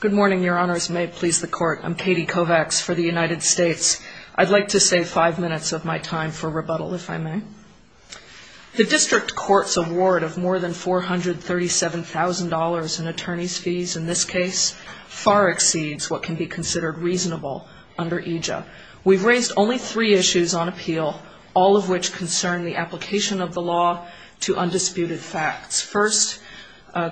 Good morning, Your Honors. May it please the Court. I'm Katie Kovacs for the United States. I'd like to save five minutes of my time for rebuttal, if I may. The District Court's award of more than $437,000 in attorneys' fees in this case far exceeds what can be considered reasonable under EJA. We've raised only three issues on appeal, all of which concern the application of the law to undisputed facts. First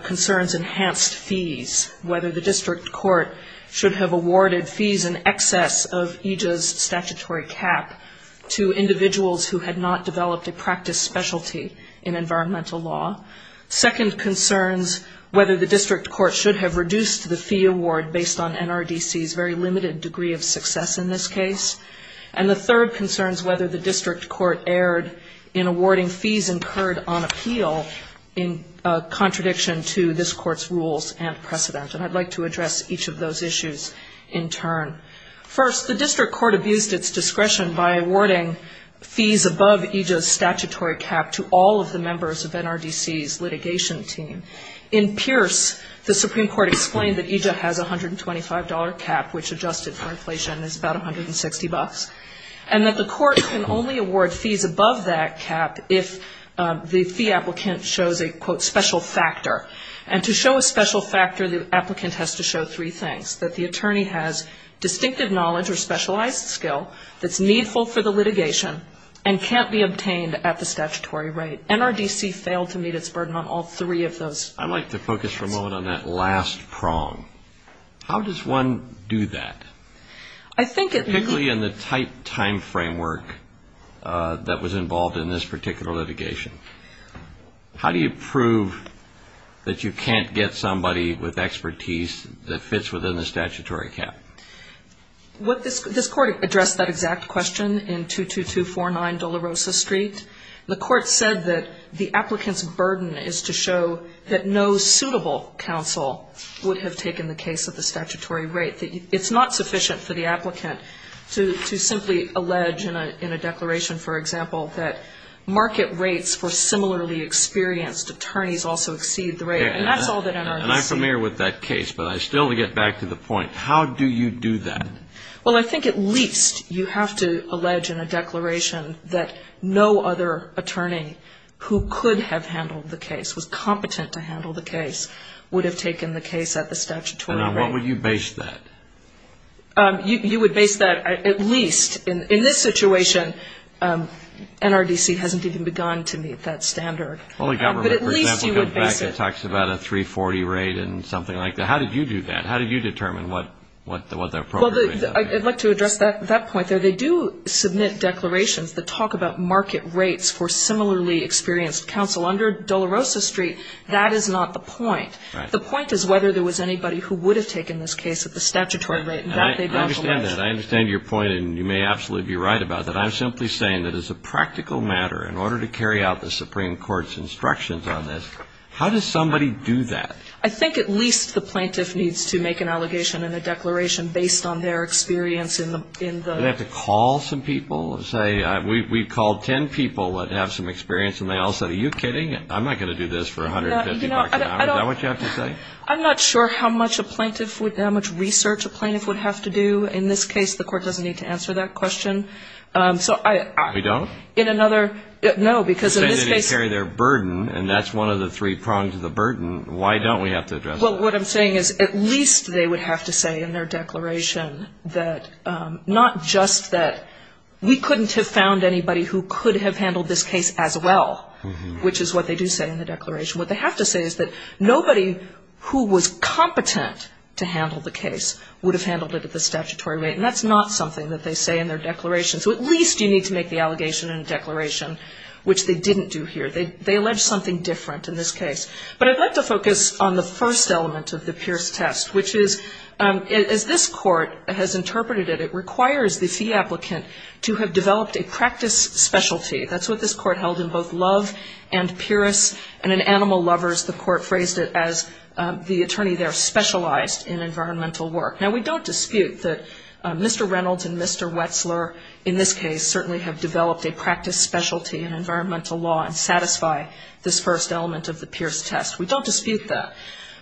concerns enhanced fees, whether the District Court should have awarded fees in excess of EJA's statutory cap to individuals who had not developed a practice specialty in environmental law. Second concerns whether the District Court should have reduced the fee award based on NRDC's very limited degree of success in this case. And the third concerns whether the District Court erred in awarding fees incurred on appeal in contradiction to this Court's rules and precedent. And I'd like to address each of those issues in turn. First, the District Court abused its discretion by awarding fees above EJA's statutory cap to all of the members of NRDC's litigation team. In Pierce, the Supreme Court explained that EJA has a $125 cap, which adjusted for inflation is about $160, and that the Court can only award fees above that cap if the fee applicant shows a, quote, special factor. And to show a special factor, the applicant has to show three things, that the attorney has distinctive knowledge or specialized skill that's needful for the litigation and can't be obtained at the statutory rate. NRDC failed to meet its burden on all three of those. I'd like to focus for a moment on that last prong. How does one do that? I think it needs Particularly in the tight time framework that was involved in this particular litigation. How do you prove that you can't get somebody with expertise that fits within the statutory cap? This Court addressed that exact question in 22249 Dolorosa Street. The Court said that the applicant's burden is to show that no suitable counsel would have taken the case at the statutory rate. It's not sufficient for the applicant to simply allege in a declaration, for example, that market rates for similarly experienced attorneys also exceed the rate. And that's all that NRDC And I'm familiar with that case, but I still get back to the point. How do you do that? Well, I think at least you have to allege in a declaration that no other attorney who could have handled the case, was competent to handle the case, would have taken the case at the statutory rate. And on what would you base that? You would base that at least, in this situation, NRDC hasn't even begun to meet that standard. Well, the government, for example, talks about a 340 rate and something like that. How did you do that? How do you determine what the appropriate rate is? Well, I'd like to address that point there. They do submit declarations that talk about market rates for similarly experienced counsel. Under Dolorosa Street, that is not the point. Right. The point is whether there was anybody who would have taken this case at the statutory rate. I understand that. I understand your point, and you may absolutely be right about that. I'm simply saying that as a practical matter, in order to carry out the Supreme Court's instructions on this, how does somebody do that? I think at least the plaintiff needs to make an allegation and a declaration based on their experience in the ---- Do they have to call some people and say, we called ten people that have some experience, and they all said, are you kidding? I'm not going to do this for $150 an hour. Is that what you have to say? I'm not sure how much a plaintiff would ---- how much research a plaintiff would have to do. In this case, the Court doesn't need to answer that question. So I ---- You don't? In another ---- no, because in this case ---- Well, what I'm saying is at least they would have to say in their declaration that not just that we couldn't have found anybody who could have handled this case as well, which is what they do say in the declaration. What they have to say is that nobody who was competent to handle the case would have handled it at the statutory rate. And that's not something that they say in their declaration. So at least you need to make the allegation and declaration, which they didn't do here. They allege something different in this case. But I'd like to focus on the first element of the Pierce test, which is, as this Court has interpreted it, it requires the fee applicant to have developed a practice specialty. That's what this Court held in both Love and Pierce. And in Animal Lovers, the Court phrased it as the attorney there specialized in environmental work. Now, we don't dispute that Mr. Reynolds and Mr. Wetzler, in this case, certainly have developed a practice specialty in environmental law and satisfy this first element of the Pierce test. We don't dispute that.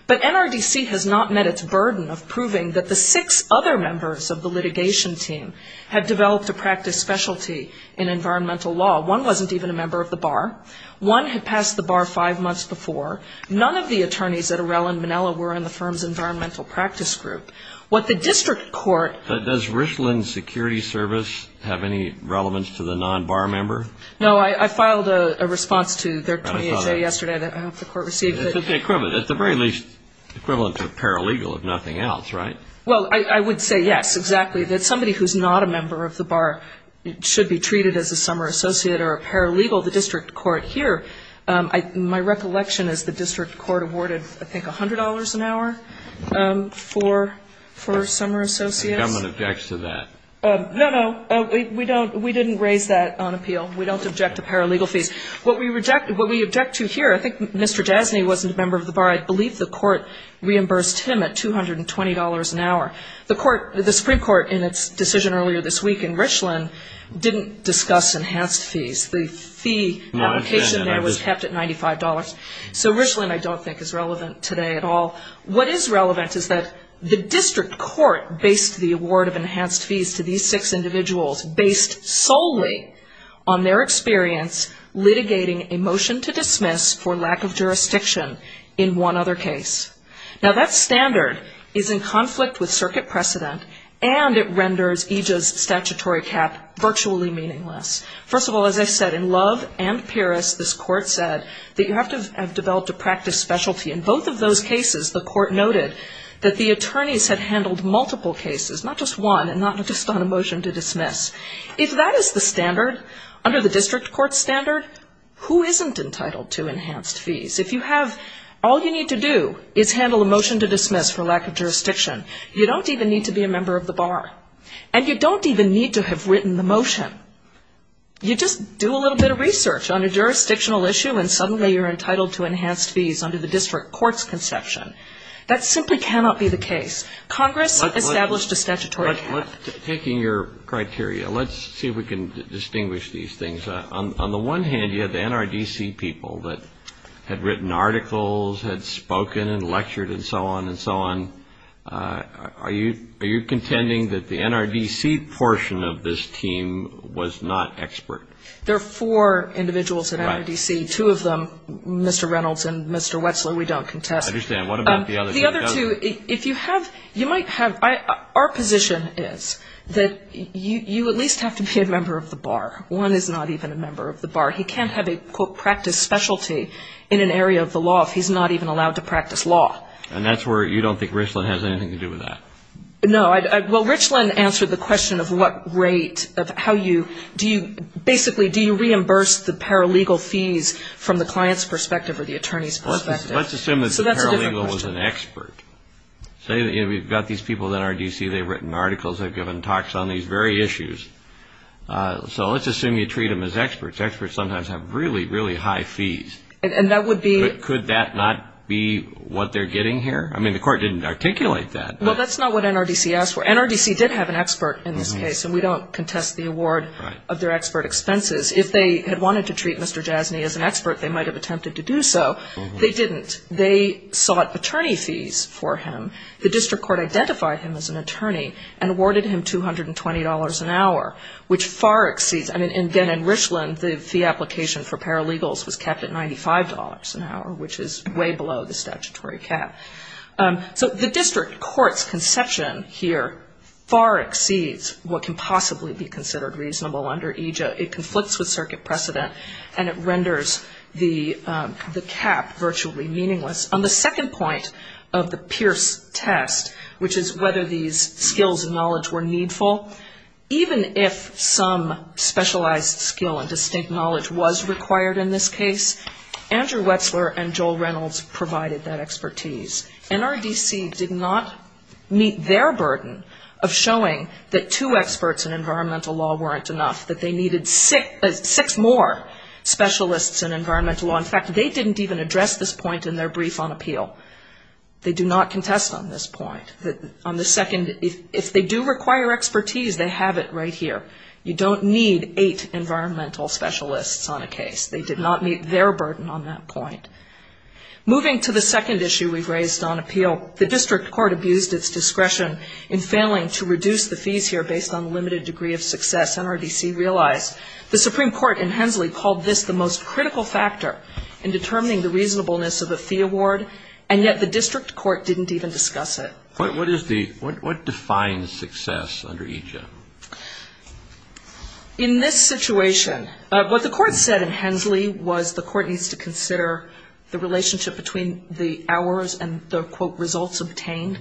But NRDC has not met its burden of proving that the six other members of the litigation team had developed a practice specialty in environmental law. One wasn't even a member of the bar. One had passed the bar five months before. None of the attorneys at Arell and Manella were in the firm's environmental practice group. But does Richland Security Service have any relevance to the non-bar member? No. I filed a response to their 20HA yesterday that I hope the Court received. It's the very least equivalent to a paralegal, if nothing else, right? Well, I would say yes, exactly. That somebody who's not a member of the bar should be treated as a summer associate or a paralegal. My recollection is the district court awarded, I think, $100 an hour for summer associates. The government objects to that. No, no. We didn't raise that on appeal. We don't object to paralegal fees. What we object to here, I think Mr. Jasny wasn't a member of the bar. I believe the court reimbursed him at $220 an hour. The Supreme Court, in its decision earlier this week in Richland, didn't discuss enhanced fees. The fee application there was kept at $95. So Richland I don't think is relevant today at all. What is relevant is that the district court based the award of enhanced fees to these six individuals based solely on their experience litigating a motion to dismiss for lack of jurisdiction in one other case. Now, that standard is in conflict with circuit precedent, and it renders EJA's statutory cap virtually meaningless. First of all, as I said, in Love and Paris this court said that you have to have developed a practice specialty. In both of those cases the court noted that the attorneys had handled multiple cases, not just one and not just on a motion to dismiss. If that is the standard under the district court standard, who isn't entitled to enhanced fees? If you have all you need to do is handle a motion to dismiss for lack of jurisdiction, you don't even need to be a member of the bar. And you don't even need to have written the motion. You just do a little bit of research on a jurisdictional issue and suddenly you're entitled to enhanced fees under the district court's conception. That simply cannot be the case. Congress established a statutory cap. Taking your criteria, let's see if we can distinguish these things. On the one hand, you have the NRDC people that had written articles, had spoken and lectured and so on and so on. Are you contending that the NRDC portion of this team was not expert? There are four individuals at NRDC. Two of them, Mr. Reynolds and Mr. Wetzler, we don't contest. I understand. What about the other two? The other two, if you have, you might have, our position is that you at least have to be a member of the bar. One is not even a member of the bar. He can't have a, quote, practice specialty in an area of the law if he's not even allowed to practice law. And that's where you don't think Richland has anything to do with that. No. Well, Richland answered the question of what rate, of how you, do you, basically, do you reimburse the paralegal fees from the client's perspective or the attorney's perspective? Let's assume that the paralegal was an expert. Say we've got these people at NRDC. They've written articles. They've given talks on these very issues. So let's assume you treat them as experts. Experts sometimes have really, really high fees. And that would be? Could that not be what they're getting here? I mean, the court didn't articulate that. Well, that's not what NRDC asked for. NRDC did have an expert in this case. And we don't contest the award of their expert expenses. If they had wanted to treat Mr. Jasny as an expert, they might have attempted to do so. They didn't. They sought attorney fees for him. The district court identified him as an attorney and awarded him $220 an hour, which far exceeds. I mean, again, in Richland, the fee application for paralegals was kept at $95 an hour, which is way below the statutory cap. So the district court's conception here far exceeds what can possibly be considered reasonable under EJA. It conflicts with circuit precedent, and it renders the cap virtually meaningless. On the second point of the Pierce test, which is whether these skills and knowledge were needful, even if some specialized skill and distinct knowledge was required in this case, Andrew Wetzler and Joel Reynolds provided that expertise. NRDC did not meet their burden of showing that two experts in environmental law weren't enough, that they needed six more specialists in environmental law. In fact, they didn't even address this point in their brief on appeal. They do not contest on this point. On the second, if they do require expertise, they have it right here. You don't need eight environmental specialists on a case. They did not meet their burden on that point. Moving to the second issue we've raised on appeal, the district court abused its discretion in failing to reduce the fees here based on limited degree of success. NRDC realized the Supreme Court in Hensley called this the most critical factor in determining the reasonableness of the fee award, and yet the district court didn't even discuss it. What defines success under each of them? In this situation, what the court said in Hensley was the court needs to consider the relationship between the hours and the, quote, results obtained.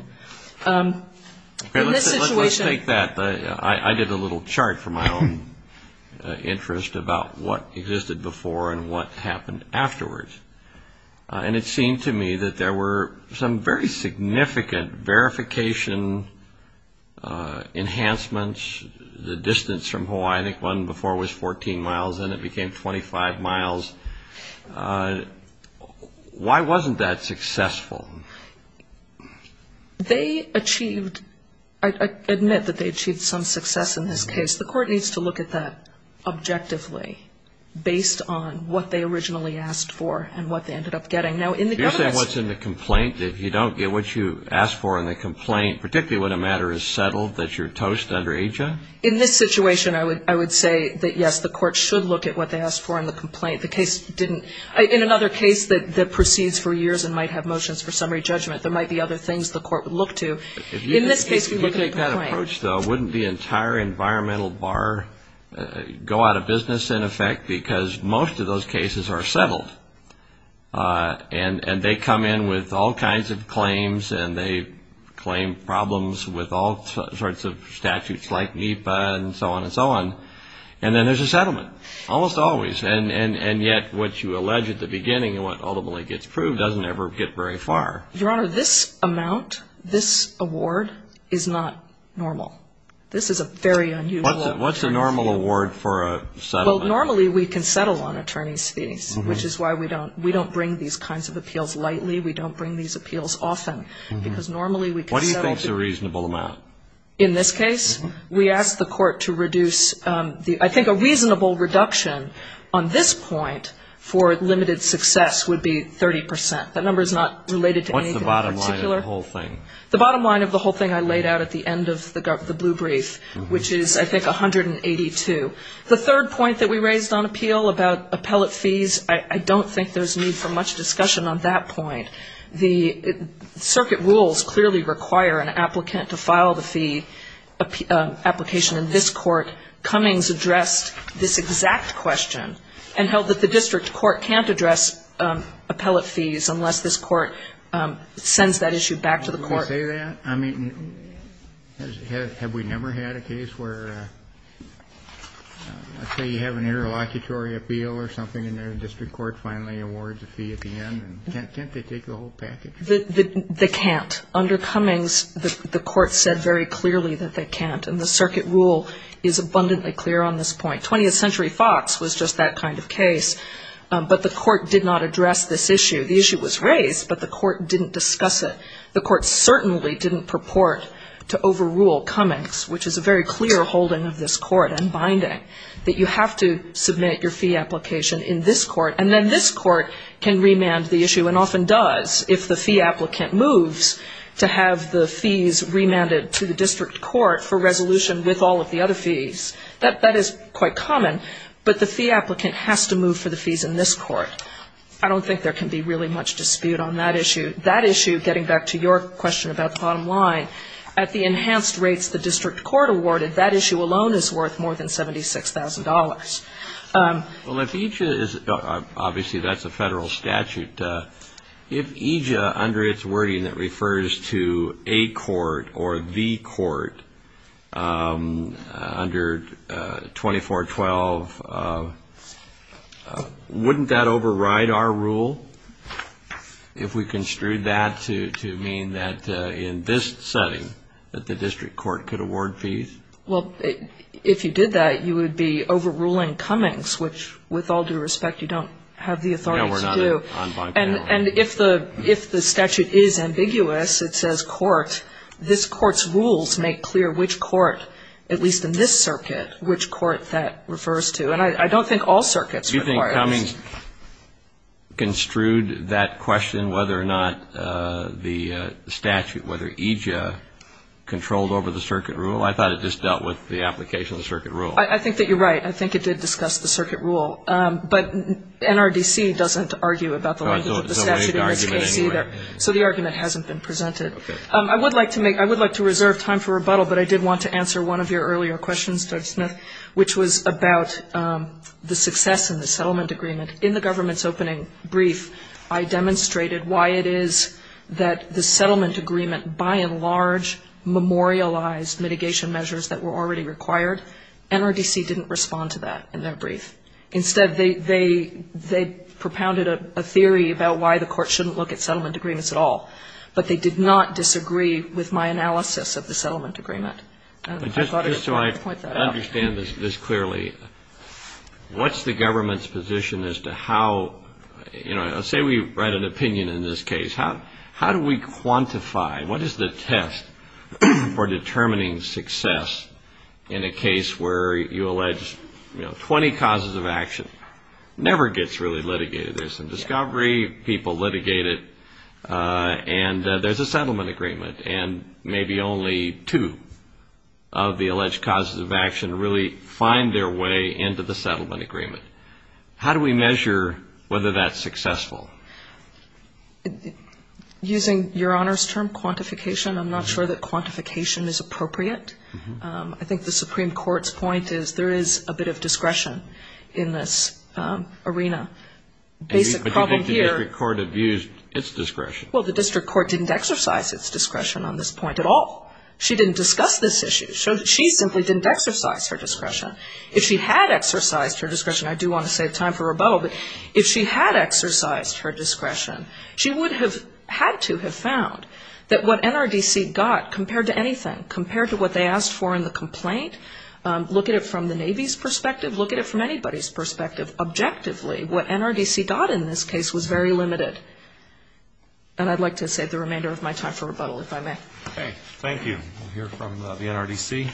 Let's take that. I did a little chart for my own interest about what existed before and what happened afterwards, and it seemed to me that there were some very significant verification enhancements. The distance from Hawaii, I think, one before was 14 miles, and it became 25 miles. Why wasn't that successful? They achieved ‑‑ I admit that they achieved some success in this case. The court needs to look at that objectively based on what they originally asked for and what they ended up getting. Now, in the government ‑‑ You're saying what's in the complaint, that if you don't get what you asked for in the complaint, particularly when a matter is settled, that you're toast under AJA? In this situation, I would say that, yes, the court should look at what they asked for in the complaint. The case didn't ‑‑ in another case that proceeds for years and might have motions for summary judgment, there might be other things the court would look to. In this case, we look at a complaint. If you take that approach, though, wouldn't the entire environmental bar go out of business, in effect, because most of those cases are settled, and they come in with all kinds of claims, and they claim problems with all sorts of statutes like NEPA and so on and so on, and then there's a settlement, almost always. Yes, and yet what you allege at the beginning and what ultimately gets proved doesn't ever get very far. Your Honor, this amount, this award, is not normal. This is a very unusual ‑‑ What's a normal award for a settlement? Well, normally we can settle on attorney's fees, which is why we don't bring these kinds of appeals lightly. We don't bring these appeals often, because normally we can settle ‑‑ What do you think is a reasonable amount? In this case, we ask the court to reduce ‑‑ I think a reasonable reduction on this point for limited success would be 30%. That number is not related to anything in particular. What's the bottom line of the whole thing? The bottom line of the whole thing I laid out at the end of the blue brief, which is, I think, 182. The third point that we raised on appeal about appellate fees, I don't think there's need for much discussion on that point. The circuit rules clearly require an applicant to file the fee application in this court. Cummings addressed this exact question and held that the district court can't address appellate fees unless this court sends that issue back to the court. Did he say that? I mean, have we never had a case where, let's say, you have an interlocutory appeal or something, and the district court finally awards a fee at the end? Can't they take the whole package? They can't. Under Cummings, the court said very clearly that they can't, and the circuit rule is abundantly clear on this point. 20th Century Fox was just that kind of case, but the court did not address this issue. The issue was raised, but the court didn't discuss it. The court certainly didn't purport to overrule Cummings, which is a very clear holding of this court and binding, that you have to submit your fee application in this court, and then this court can remand the issue and often does if the fee applicant moves to have the fees remanded to the district court for resolution with all of the other fees. That is quite common, but the fee applicant has to move for the fees in this court. I don't think there can be really much dispute on that issue. That issue, getting back to your question about the bottom line, at the enhanced rates the district court awarded, that issue alone is worth more than $76,000. Well, if EJIA is, obviously that's a federal statute. If EJIA, under its wording that refers to a court or the court under 2412, wouldn't that override our rule if we construed that to mean that in this setting that the district court could award fees? Well, if you did that, you would be overruling Cummings, which, with all due respect, you don't have the authority to do. No, we're not on bond power. And if the statute is ambiguous, it says court, this court's rules make clear which court, at least in this circuit, which court that refers to. And I don't think all circuits require this. Do you think Cummings construed that question, whether or not the statute, whether EJIA, controlled over the circuit rule? I thought it just dealt with the application of the circuit rule. I think that you're right. I think it did discuss the circuit rule. But NRDC doesn't argue about the language of the statute in this case either. So the argument hasn't been presented. I would like to reserve time for rebuttal, but I did want to answer one of your earlier questions, Judge Smith, which was about the success in the settlement agreement. In the government's opening brief, I demonstrated why it is that the settlement agreement, by and large, memorialized mitigation measures that were already required. NRDC didn't respond to that in their brief. Instead, they propounded a theory about why the court shouldn't look at settlement agreements at all. But they did not disagree with my analysis of the settlement agreement. Just so I understand this clearly, what's the government's position as to how, you know, let's say we write an opinion in this case. How do we quantify, what is the test for determining success in a case where you allege, you know, 20 causes of action never gets really litigated? There's some discovery. People litigate it. And there's a settlement agreement. And maybe only two of the alleged causes of action really find their way into the settlement agreement. How do we measure whether that's successful? Using Your Honor's term, quantification, I'm not sure that quantification is appropriate. I think the Supreme Court's point is there is a bit of discretion in this arena. Basic problem here. But you think the district court abused its discretion. Well, the district court didn't exercise its discretion on this point at all. She didn't discuss this issue. She simply didn't exercise her discretion. If she had exercised her discretion, I do want to save time for rebuttal, but if she had exercised her discretion, she would have had to have found that what NRDC got, compared to anything, compared to what they asked for in the complaint, look at it from the Navy's perspective, look at it from anybody's perspective. Objectively, what NRDC got in this case was very limited. And I'd like to save the remainder of my time for rebuttal, if I may. Okay. Thank you. We'll hear from the NRDC.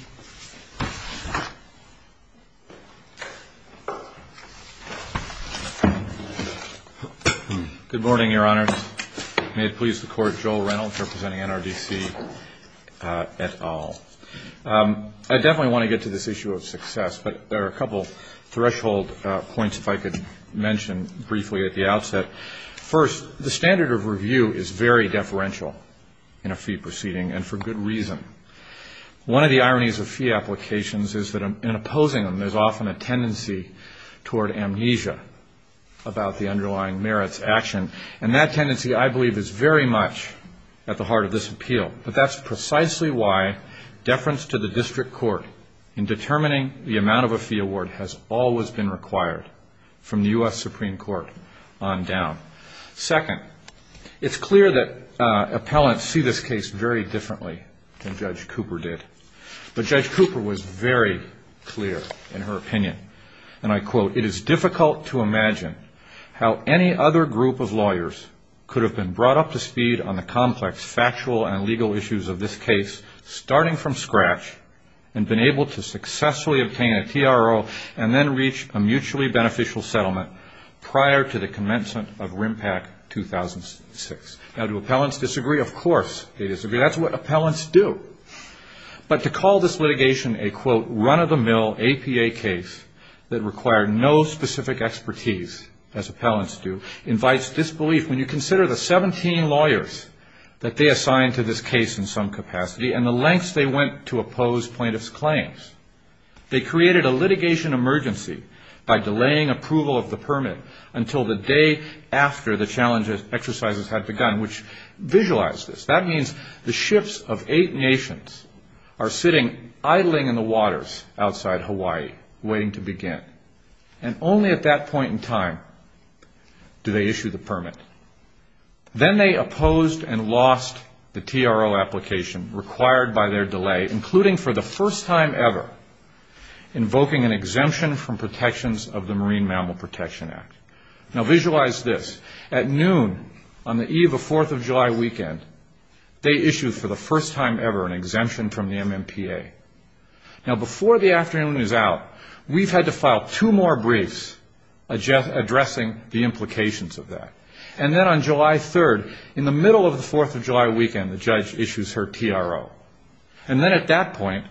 Good morning, Your Honors. May it please the Court, Joel Reynolds representing NRDC et al. I definitely want to get to this issue of success, but there are a couple threshold points if I could mention briefly at the outset. First, the standard of review is very deferential in a fee proceeding, and for good reason. One of the ironies of fee applications is that in opposing them, there's often a tendency toward amnesia about the underlying merits action, and that tendency, I believe, is very much at the heart of this appeal. But that's precisely why deference to the district court in determining the amount of a fee award has always been required from the U.S. Supreme Court on down. Second, it's clear that appellants see this case very differently than Judge Cooper did. But Judge Cooper was very clear in her opinion, and I quote, it is difficult to imagine how any other group of lawyers could have been brought up to speed on the complex factual and legal issues of this case starting from scratch and been able to successfully obtain a TRO and then reach a mutually beneficial settlement prior to the commencement of RIMPAC 2006. Now, do appellants disagree? Of course they disagree. That's what appellants do. But to call this litigation a, quote, run-of-the-mill APA case that required no specific expertise, as appellants do, invites disbelief when you consider the 17 lawyers that they assigned to this case in some capacity and the lengths they went to oppose plaintiffs' claims. They created a litigation emergency by delaying approval of the permit until the day after the challenge exercises had begun, which visualize this. That means the ships of eight nations are sitting idling in the waters outside Hawaii waiting to begin, and only at that point in time do they issue the permit. Then they opposed and lost the TRO application required by their delay, including for the first time ever invoking an exemption from protections of the Marine Mammal Protection Act. Now, visualize this. At noon on the eve of 4th of July weekend, they issued for the first time ever an exemption from the MMPA. Now, before the afternoon is out, we've had to file two more briefs addressing the implications of that. And then on July 3rd, in the middle of the 4th of July weekend, the judge issues her TRO. And then at that point,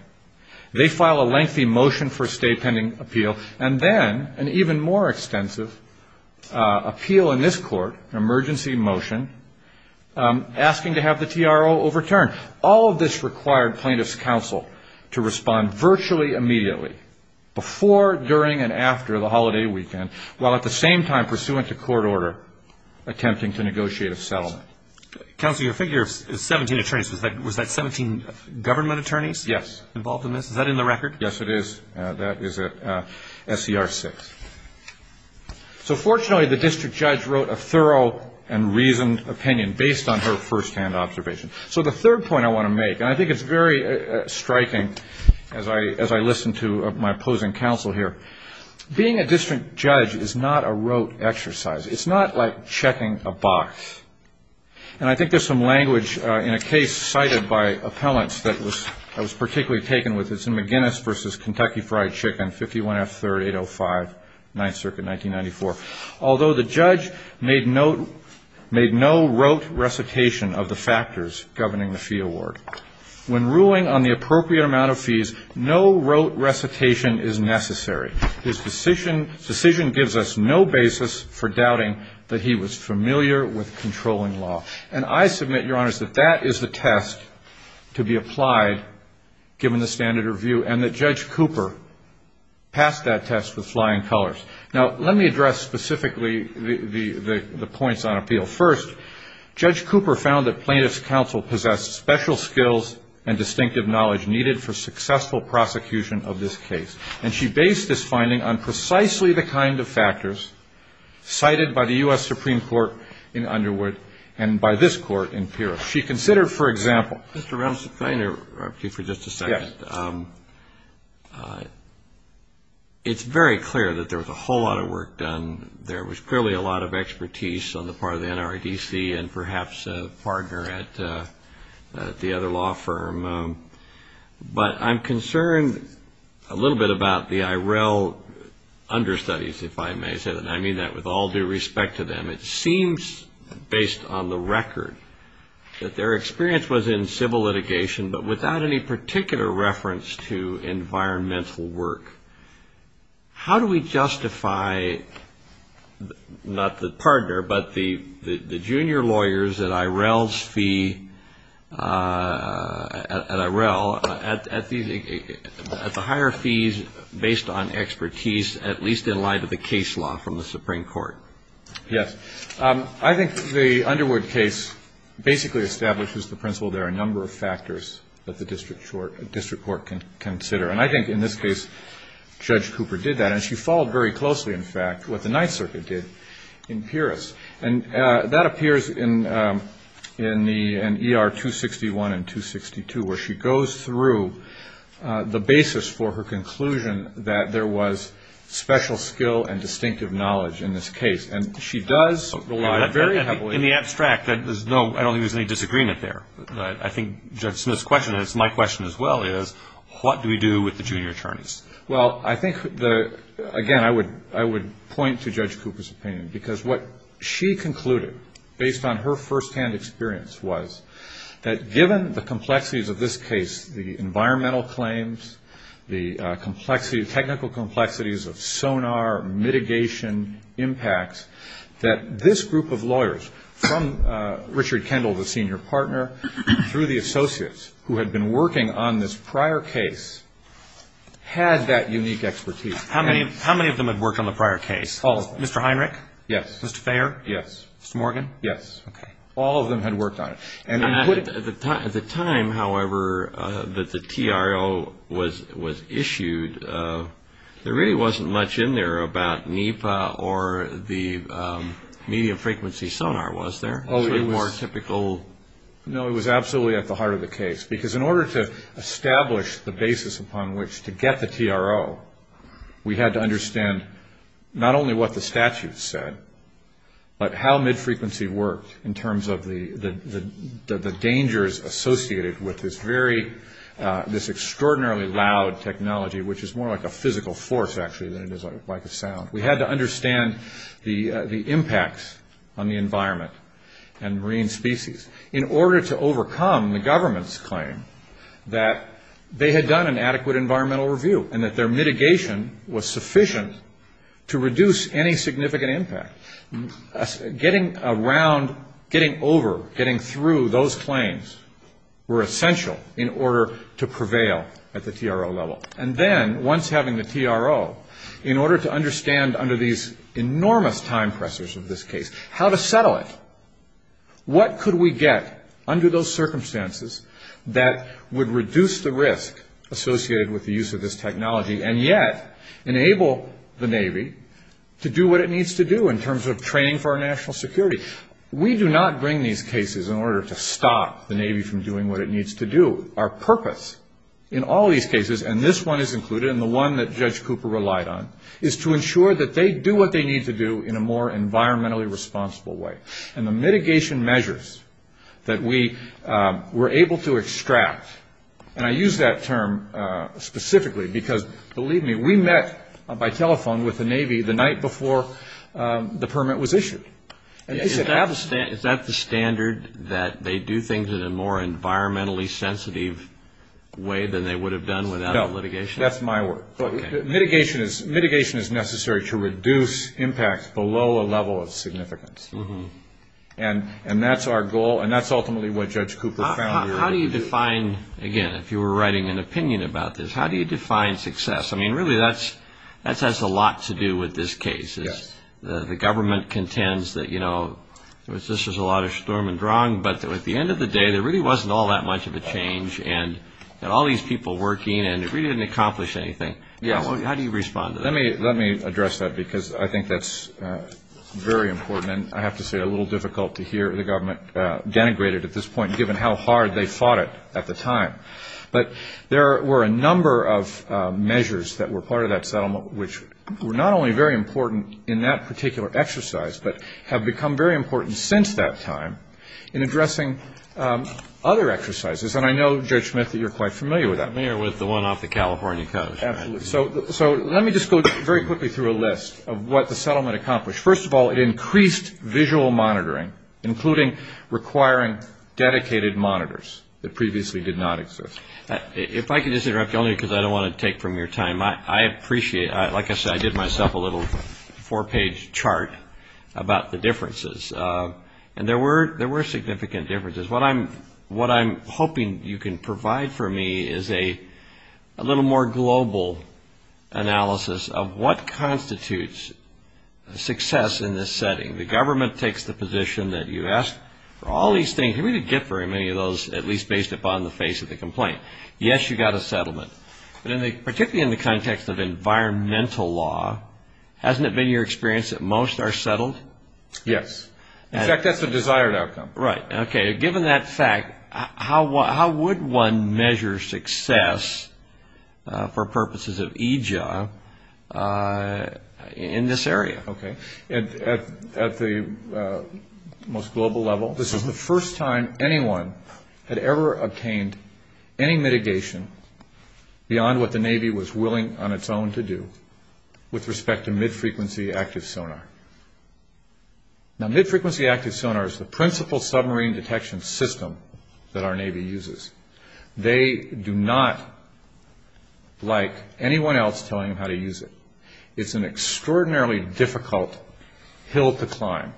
they file a lengthy motion for a stay pending appeal, and then an even more extensive appeal in this court, an emergency motion, asking to have the TRO overturned. All of this required plaintiffs' counsel to respond virtually immediately, before, during, and after the holiday weekend, while at the same time pursuant to court order, attempting to negotiate a settlement. Counsel, your figure is 17 attorneys. Was that 17 government attorneys involved in this? Yes. Is that in the record? Yes, it is. That is SCR 6. So fortunately, the district judge wrote a thorough and reasoned opinion based on her firsthand observation. So the third point I want to make, and I think it's very striking as I listen to my opposing counsel here, being a district judge is not a rote exercise. It's not like checking a box. And I think there's some language in a case cited by appellants that I was particularly taken with. It's in McGinnis v. Kentucky Fried Chicken, 51 F. 3rd, 805, 9th Circuit, 1994. Although the judge made no rote recitation of the factors governing the fee award, when ruling on the appropriate amount of fees, no rote recitation is necessary. His decision gives us no basis for doubting that he was familiar with controlling law. And I submit, Your Honors, that that is the test to be applied given the standard review and that Judge Cooper passed that test with flying colors. Now, let me address specifically the points on appeal. First, Judge Cooper found that plaintiff's counsel possessed special skills and distinctive knowledge needed for successful prosecution of this case. And she based this finding on precisely the kind of factors cited by the U.S. Supreme Court in Underwood and by this Court in Pierce. She considered, for example. Mr. Rumsfeld, can I interrupt you for just a second? Yes. It's very clear that there was a whole lot of work done. There was clearly a lot of expertise on the part of the NRDC and perhaps a partner at the other law firm. But I'm concerned a little bit about the IRL understudies, if I may say that. And I mean that with all due respect to them. It seems, based on the record, that their experience was in civil litigation, but without any particular reference to environmental work. How do we justify, not the partner, but the junior lawyers at IRL's fee at the higher fees based on expertise, at least in light of the case law from the Supreme Court? Yes. I think the Underwood case basically establishes the principle there are a number of factors that the district court can consider. And I think in this case Judge Cooper did that. And she followed very closely, in fact, what the Ninth Circuit did in Pierce. And that appears in ER 261 and 262 where she goes through the basis for her conclusion that there was special skill and distinctive knowledge in this case. And she does rely very heavily. In the abstract, I don't think there's any disagreement there. But I think Judge Smith's question, and it's my question as well, is what do we do with the junior attorneys? Well, I think, again, I would point to Judge Cooper's opinion. Because what she concluded, based on her firsthand experience, was that given the complexities of this case, the environmental claims, the technical complexities of sonar, mitigation impacts, that this group of lawyers, from Richard Kendall, the senior partner, through the associates who had been working on this prior case, had that unique expertise. How many of them had worked on the prior case? All of them. Mr. Heinrich? Yes. Mr. Thayer? Yes. Mr. Morgan? Yes. All of them had worked on it. At the time, however, that the TRO was issued, there really wasn't much in there about NEPA or the medium-frequency sonar, was there? It was more typical. No, it was absolutely at the heart of the case. Because in order to establish the basis upon which to get the TRO, we had to understand not only what the statute said, but how mid-frequency worked in terms of the dangers associated with this extraordinarily loud technology, which is more like a physical force, actually, than it is like a sound. We had to understand the impacts on the environment and marine species in order to overcome the government's claim that they had done an adequate environmental review and that their mitigation was sufficient to reduce any significant impact. Getting around, getting over, getting through those claims were essential in order to prevail at the TRO level. And then, once having the TRO, in order to understand under these enormous time pressures of this case how to settle it, what could we get under those circumstances that would reduce the risk associated with the use of this technology and yet enable the Navy to do what it needs to do in terms of training for our national security? We do not bring these cases in order to stop the Navy from doing what it needs to do. Our purpose in all these cases, and this one is included in the one that Judge Cooper relied on, is to ensure that they do what they need to do in a more environmentally responsible way. And the mitigation measures that we were able to extract, and I use that term specifically because, believe me, we met by telephone with the Navy the night before the permit was issued. Is that the standard, that they do things in a more environmentally sensitive way than they would have done without litigation? That's my word. Mitigation is necessary to reduce impact below a level of significance. And that's our goal, and that's ultimately what Judge Cooper found. How do you define, again, if you were writing an opinion about this, how do you define success? I mean, really, that has a lot to do with this case. The government contends that, you know, this is a lot of schturm und drang, but at the end of the day, there really wasn't all that much of a change, and all these people working, and it really didn't accomplish anything. How do you respond to that? Let me address that, because I think that's very important, and I have to say a little difficult to hear the government denigrated at this point, given how hard they fought it at the time. But there were a number of measures that were part of that settlement, which were not only very important in that particular exercise, but have become very important since that time in addressing other exercises. And I know, Judge Smith, that you're quite familiar with that. I'm familiar with the one off the California coast. Absolutely. So let me just go very quickly through a list of what the settlement accomplished. First of all, it increased visual monitoring, including requiring dedicated monitors that previously did not exist. If I could just interrupt you, only because I don't want to take from your time. I appreciate, like I said, I did myself a little four-page chart about the differences, and there were significant differences. What I'm hoping you can provide for me is a little more global analysis of what constitutes success in this setting. The government takes the position that you asked for all these things. You didn't get very many of those, at least based upon the face of the complaint. Yes, you got a settlement. But particularly in the context of environmental law, hasn't it been your experience that most are settled? Yes. In fact, that's the desired outcome. Right. Okay. Given that fact, how would one measure success for purposes of e-job in this area? Okay. At the most global level, this is the first time anyone had ever obtained any mitigation beyond what the Navy was willing on its own to do with respect to mid-frequency active sonar. Now, mid-frequency active sonar is the principal submarine detection system that our Navy uses. They do not, like anyone else, tell you how to use it. It's an extraordinarily difficult hill to climb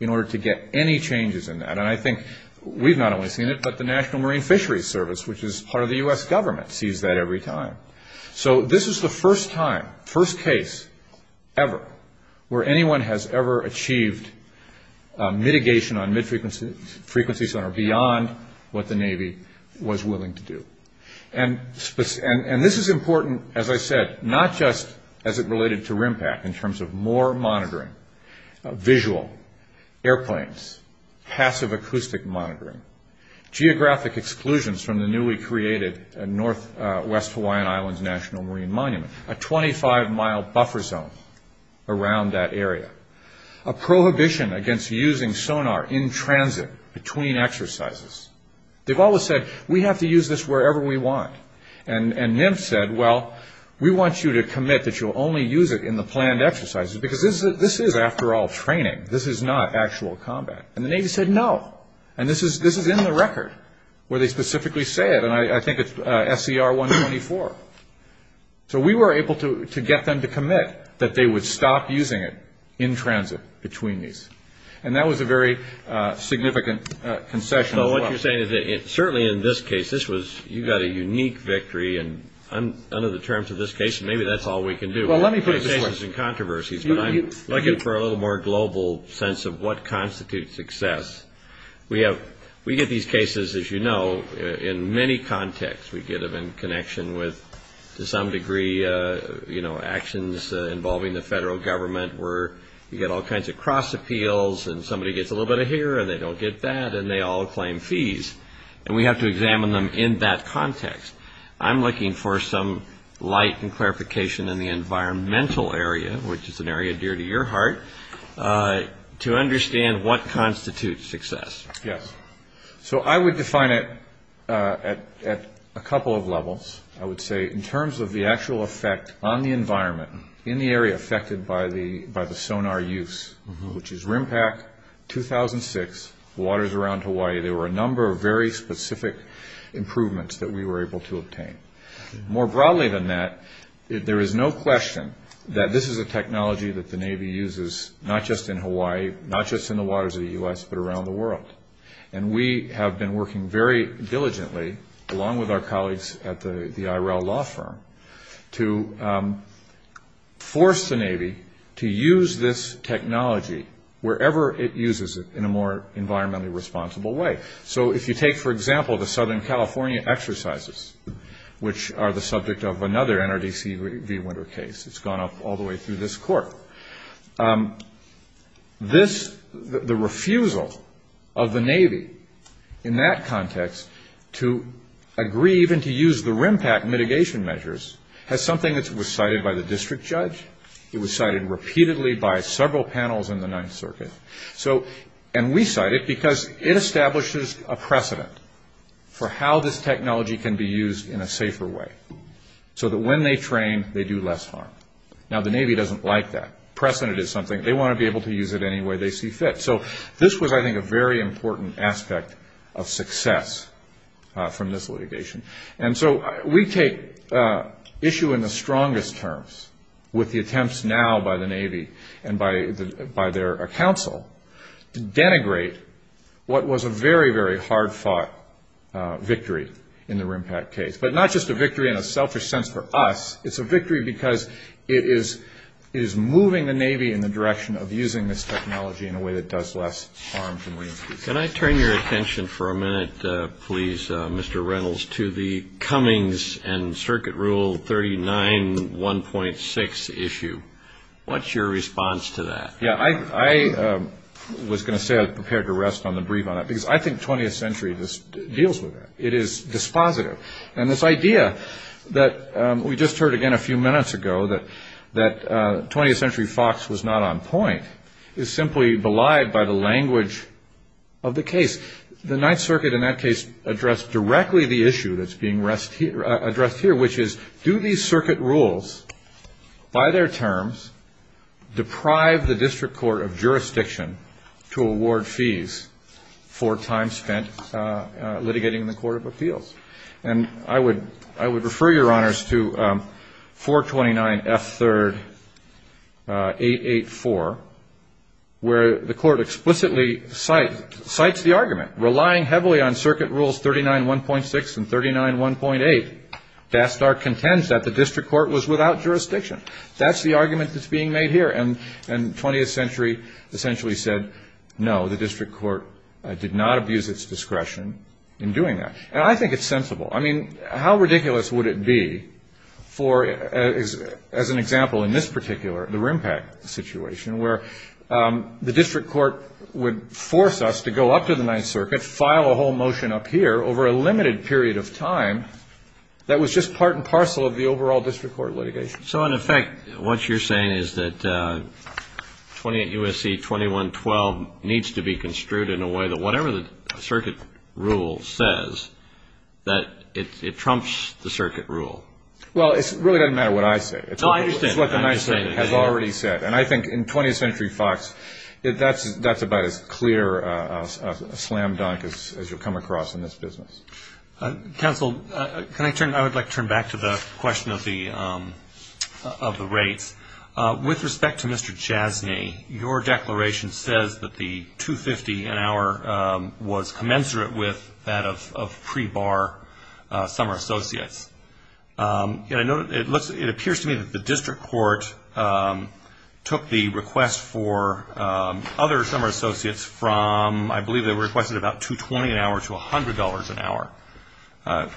in order to get any changes in that. And I think we've not only seen it, but the National Marine Fisheries Service, which is part of the U.S. government, sees that every time. So this is the first time, first case ever, where anyone has ever achieved mitigation on mid-frequency sonar beyond what the Navy was willing to do. And this is important, as I said, not just as it related to RIMPAC in terms of more monitoring, visual, airplanes, passive acoustic monitoring, geographic exclusions from the newly created Northwest Hawaiian Islands National Marine Monument, a 25-mile buffer zone around that area, a prohibition against using sonar in transit between exercises. They've always said, we have to use this wherever we want. And NIMF said, well, we want you to commit that you'll only use it in the planned exercises because this is, after all, training. This is not actual combat. And the Navy said, no. And this is in the record where they specifically say it, and I think it's SCR-124. So we were able to get them to commit that they would stop using it in transit between these. And that was a very significant concession as well. So what you're saying is that certainly in this case, this was, you got a unique victory, and under the terms of this case, maybe that's all we can do. Well, let me put it this way. But I'm looking for a little more global sense of what constitutes success. We get these cases, as you know, in many contexts. We get them in connection with, to some degree, actions involving the federal government where you get all kinds of cross appeals, and somebody gets a little bit of here, and they don't get that, and they all claim fees. And we have to examine them in that context. I'm looking for some light and clarification in the environmental area, which is an area dear to your heart, to understand what constitutes success. Yes. So I would define it at a couple of levels. I would say in terms of the actual effect on the environment in the area affected by the sonar use, which is RIMPAC 2006, waters around Hawaii, there were a number of very specific improvements that we were able to obtain. More broadly than that, there is no question that this is a technology that the Navy uses not just in Hawaii, not just in the waters of the U.S., but around the world. And we have been working very diligently, along with our colleagues at the IRL law firm, to force the Navy to use this technology wherever it uses it in a more environmentally responsible way. So if you take, for example, the Southern California exercises, which are the subject of another NRDC v. Winter case. It's gone up all the way through this court. The refusal of the Navy in that context to agree even to use the RIMPAC mitigation measures has something that was cited by the district judge. It was cited repeatedly by several panels in the Ninth Circuit. And we cite it because it establishes a precedent for how this technology can be used in a safer way, so that when they train, they do less harm. Now, the Navy doesn't like that. Precedent is something. They want to be able to use it any way they see fit. So this was, I think, a very important aspect of success from this litigation. And so we take issue in the strongest terms with the attempts now by the Navy and by their counsel to denigrate what was a very, very hard-fought victory in the RIMPAC case. But not just a victory in a selfish sense for us. It's a victory because it is moving the Navy in the direction of using this technology in a way that does less harm. Can I turn your attention for a minute, please, Mr. Reynolds, to the Cummings and Circuit Rule 39.1.6 issue? What's your response to that? I was going to say I'm prepared to rest on the brief on that, because I think 20th century deals with that. It is dispositive. And this idea that we just heard again a few minutes ago, that 20th Century Fox was not on point, is simply belied by the language of the case. The Ninth Circuit in that case addressed directly the issue that's being addressed here, which is do these circuit rules by their terms deprive the district court of jurisdiction to award fees for time spent litigating in the Court of Appeals? And I would refer your honors to 429F3-884, where the court explicitly cites the argument. Relying heavily on Circuit Rules 39.1.6 and 39.1.8, Dastar contends that the district court was without jurisdiction. That's the argument that's being made here. And 20th Century essentially said, no, the district court did not abuse its discretion in doing that. And I think it's sensible. I mean, how ridiculous would it be for, as an example in this particular, the RIMPAC situation, where the district court would force us to go up to the Ninth Circuit, file a whole motion up here over a limited period of time that was just part and parcel of the overall district court litigation? So, in effect, what you're saying is that 28 U.S.C. 2112 needs to be construed in a way that whatever the circuit rule says, that it trumps the circuit rule. Well, it really doesn't matter what I say. No, I understand. It's what the Ninth Circuit has already said. And I think in 20th Century Fox, that's about as clear a slam dunk as you'll come across in this business. Counsel, can I turn? I would like to turn back to the question of the rates. With respect to Mr. Jasny, your declaration says that the $250 an hour was commensurate with that of pre-bar summer associates. It appears to me that the district court took the request for other summer associates from, I believe they requested about $220 an hour to $100 an hour.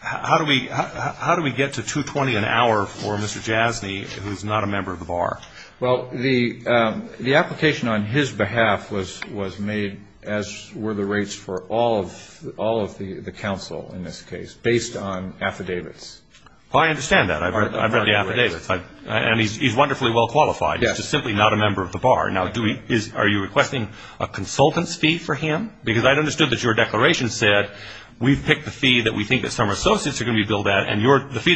How do we get to $220 an hour for Mr. Jasny, who's not a member of the bar? Well, the application on his behalf was made as were the rates for all of the counsel in this case, based on affidavits. I understand that. I've read the affidavits. And he's wonderfully well qualified. He's just simply not a member of the bar. Now, are you requesting a consultant's fee for him? Because I understood that your declaration said we've picked the fee that we think that summer associates are going to be billed at, and the fee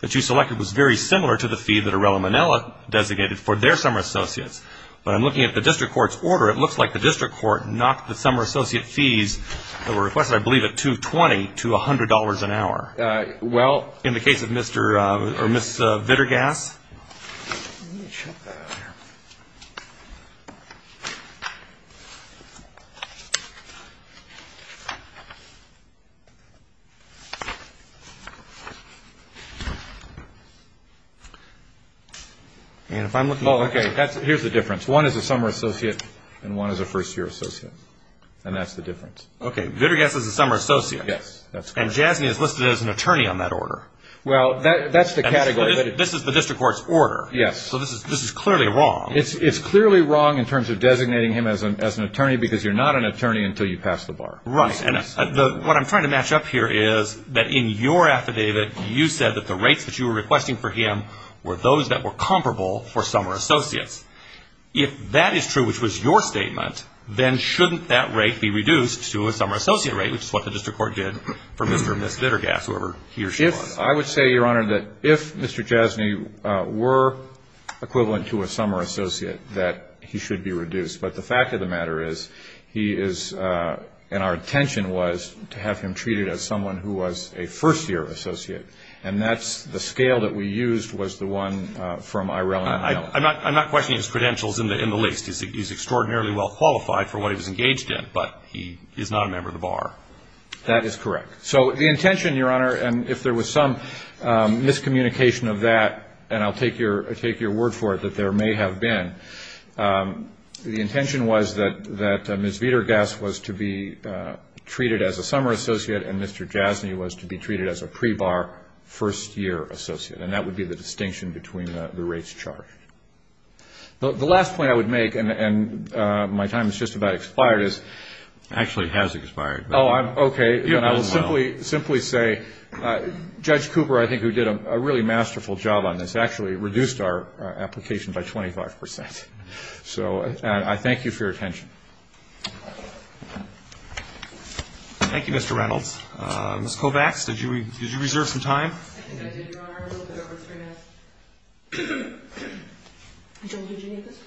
that you selected was very similar to the fee that Arella Manella designated for their summer associates. But I'm looking at the district court's order. It looks like the district court knocked the summer associate fees that were requested, I believe, at $220 to $100 an hour. Well, in the case of Mr. or Ms. Vitergas. Here's the difference. One is a summer associate, and one is a first-year associate. And that's the difference. Okay. Vitergas is a summer associate. Yes. And Jasney is listed as an attorney on that order. Well, that's the category. This is the district court's order. Yes. So this is clearly wrong. It's clearly wrong in terms of designating him as an attorney because you're not an attorney until you pass the bar. Right. And what I'm trying to match up here is that in your affidavit, you said that the rates that you were requesting for him were those that were comparable for summer associates. If that is true, which was your statement, then shouldn't that rate be reduced to a summer associate rate, which is what the district court did for Mr. and Ms. Vitergas, whoever he or she was? I would say, Your Honor, that if Mr. Jasney were equivalent to a summer associate, that he should be reduced. But the fact of the matter is he is ‑‑ and our intention was to have him treated as someone who was a first-year associate. And that's the scale that we used was the one from Ireland. I'm not questioning his credentials in the least. He's extraordinarily well qualified for what he was engaged in, but he is not a member of the bar. That is correct. So the intention, Your Honor, and if there was some miscommunication of that, and I'll take your word for it that there may have been, the intention was that Ms. Vitergas was to be treated as a summer associate and Mr. Jasney was to be treated as a pre-bar first-year associate. And that would be the distinction between the rates charged. The last point I would make, and my time has just about expired, is ‑‑ Actually, it has expired. Oh, okay. I will simply say Judge Cooper, I think, who did a really masterful job on this, actually reduced our application by 25 percent. So I thank you for your attention. Thank you, Mr. Reynolds. Ms. Kovacs, did you reserve some time? I think I did, Your Honor. A little bit over three minutes.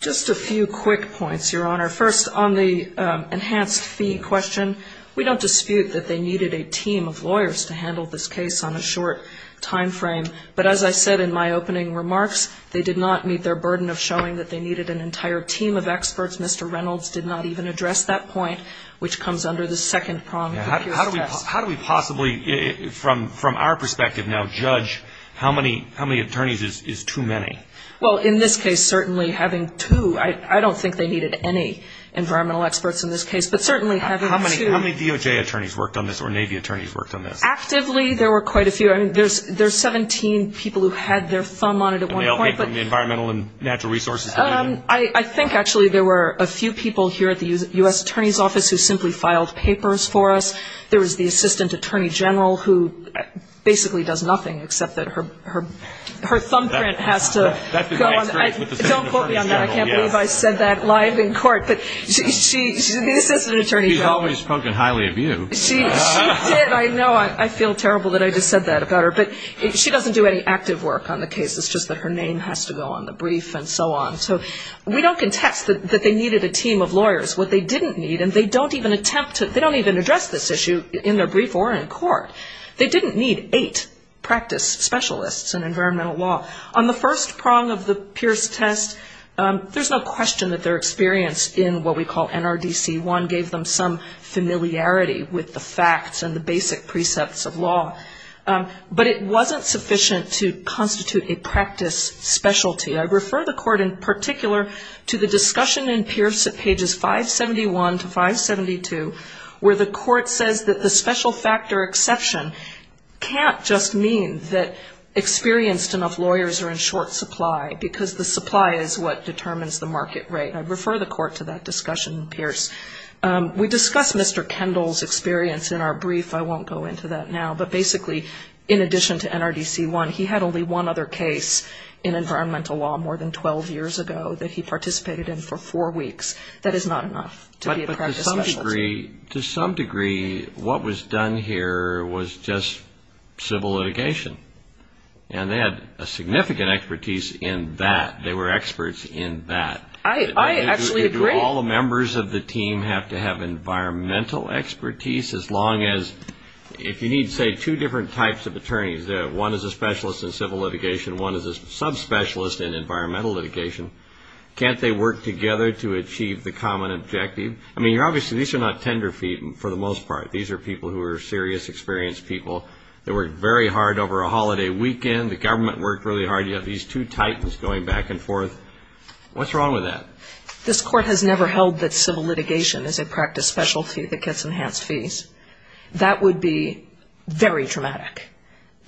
Just a few quick points, Your Honor. First, on the enhanced fee question, we don't dispute that they needed a team of lawyers to handle this case on a short timeframe. But as I said in my opening remarks, they did not meet their burden of showing that they needed an entire team of experts. Mr. Reynolds did not even address that point, which comes under the second prong. How do we possibly, from our perspective now, judge how many attorneys is too many? Well, in this case, certainly having two, I don't think they needed any environmental experts in this case, but certainly having two. How many DOJ attorneys worked on this or Navy attorneys worked on this? Actively, there were quite a few. There's 17 people who had their thumb on it at one point. And they all came from the Environmental and Natural Resources Department? I think, actually, there were a few people here at the U.S. Attorney's Office who simply filed papers for us. There was the Assistant Attorney General who basically does nothing except that her thumbprint has to go on. Don't quote me on that. I can't believe I said that live in court. But she's the Assistant Attorney General. She's always spoken highly of you. She did. I know. I feel terrible that I just said that about her. But she doesn't do any active work on the case. It's just that her name has to go on the brief and so on. So we don't contest that they needed a team of lawyers. What they didn't need, and they don't even attempt to, they don't even address this issue in their brief or in court, they didn't need eight practice specialists in environmental law. On the first prong of the Pierce test, there's no question that their experience in what we call NRDC-1 gave them some familiarity with the facts and the basic precepts of law. But it wasn't sufficient to constitute a practice specialty. I refer the court in particular to the discussion in Pierce at pages 571 to 572 where the court says that the special factor exception can't just mean that experienced enough lawyers are in short supply because the supply is what determines the market rate. I refer the court to that discussion in Pierce. We discuss Mr. Kendall's experience in our brief. I won't go into that now. But basically, in addition to NRDC-1, he had only one other case in environmental law more than 12 years ago that he participated in for four weeks. That is not enough to be a practice specialty. But to some degree, what was done here was just civil litigation. And they had a significant expertise in that. They were experts in that. I actually agree. All the members of the team have to have environmental expertise as long as, if you need, say, two different types of attorneys. One is a specialist in civil litigation. One is a subspecialist in environmental litigation. Can't they work together to achieve the common objective? I mean, obviously, these are not tender feet for the most part. These are people who are serious, experienced people. They worked very hard over a holiday weekend. The government worked really hard. You have these two titans going back and forth. What's wrong with that? This court has never held that civil litigation is a practice specialty that gets enhanced fees. That would be very dramatic,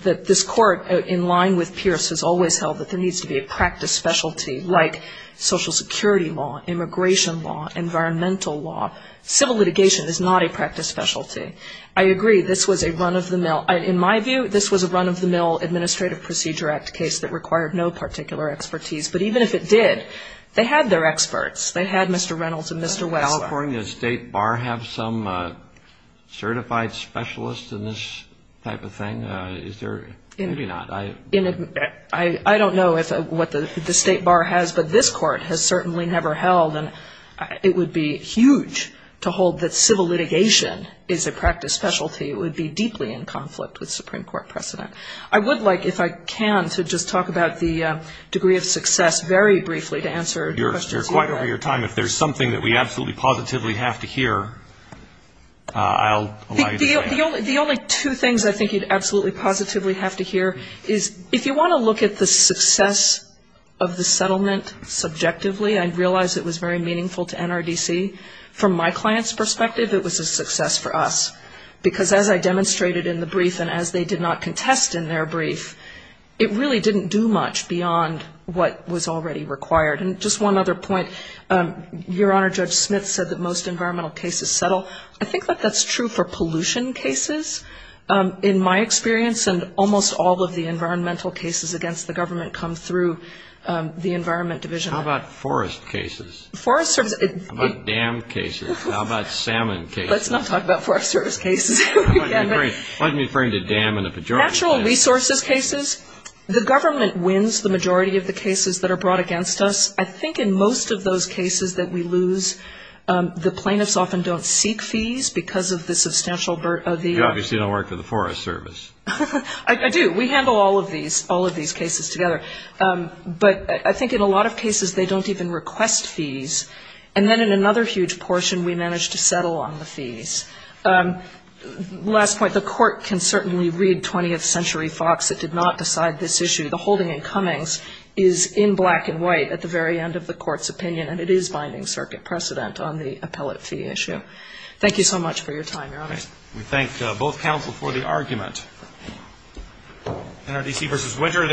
that this court, in line with Pierce, has always held that there needs to be a practice specialty like Social Security law, immigration law, environmental law. Civil litigation is not a practice specialty. I agree. This was a run-of-the-mill. In my view, this was a run-of-the-mill Administrative Procedure Act case that required no particular expertise. But even if it did, they had their experts. They had Mr. Reynolds and Mr. Wessler. Does California State Bar have some certified specialists in this type of thing? Is there? Maybe not. I don't know what the State Bar has, but this court has certainly never held. And it would be huge to hold that civil litigation is a practice specialty. It would be deeply in conflict with Supreme Court precedent. I would like, if I can, to just talk about the degree of success very briefly to answer questions. You're quite over your time. If there's something that we absolutely positively have to hear, I'll allow you to say that. The only two things I think you'd absolutely positively have to hear is, if you want to look at the success of the settlement subjectively, I realize it was very meaningful to NRDC. From my client's perspective, it was a success for us. Because as I demonstrated in the brief and as they did not contest in their brief, it really didn't do much beyond what was already required. And just one other point. Your Honor, Judge Smith said that most environmental cases settle. I think that that's true for pollution cases, in my experience, and almost all of the environmental cases against the government come through the Environment Division. How about forest cases? Forest services. How about dam cases? How about salmon cases? Let's not talk about forest service cases. Natural resources cases, the government wins the majority of the cases that are brought against us. I think in most of those cases that we lose, the plaintiffs often don't seek fees because of the substantial burden. You obviously don't work for the Forest Service. I do. We handle all of these cases together. But I think in a lot of cases they don't even request fees. And then in another huge portion, we manage to settle on the fees. Last point, the Court can certainly read 20th Century Fox. It did not decide this issue. The holding in Cummings is in black and white at the very end of the Court's opinion, and it is binding circuit precedent on the appellate fee issue. Thank you so much for your time, Your Honor. We thank both counsel for the argument. NRDC v. Winter.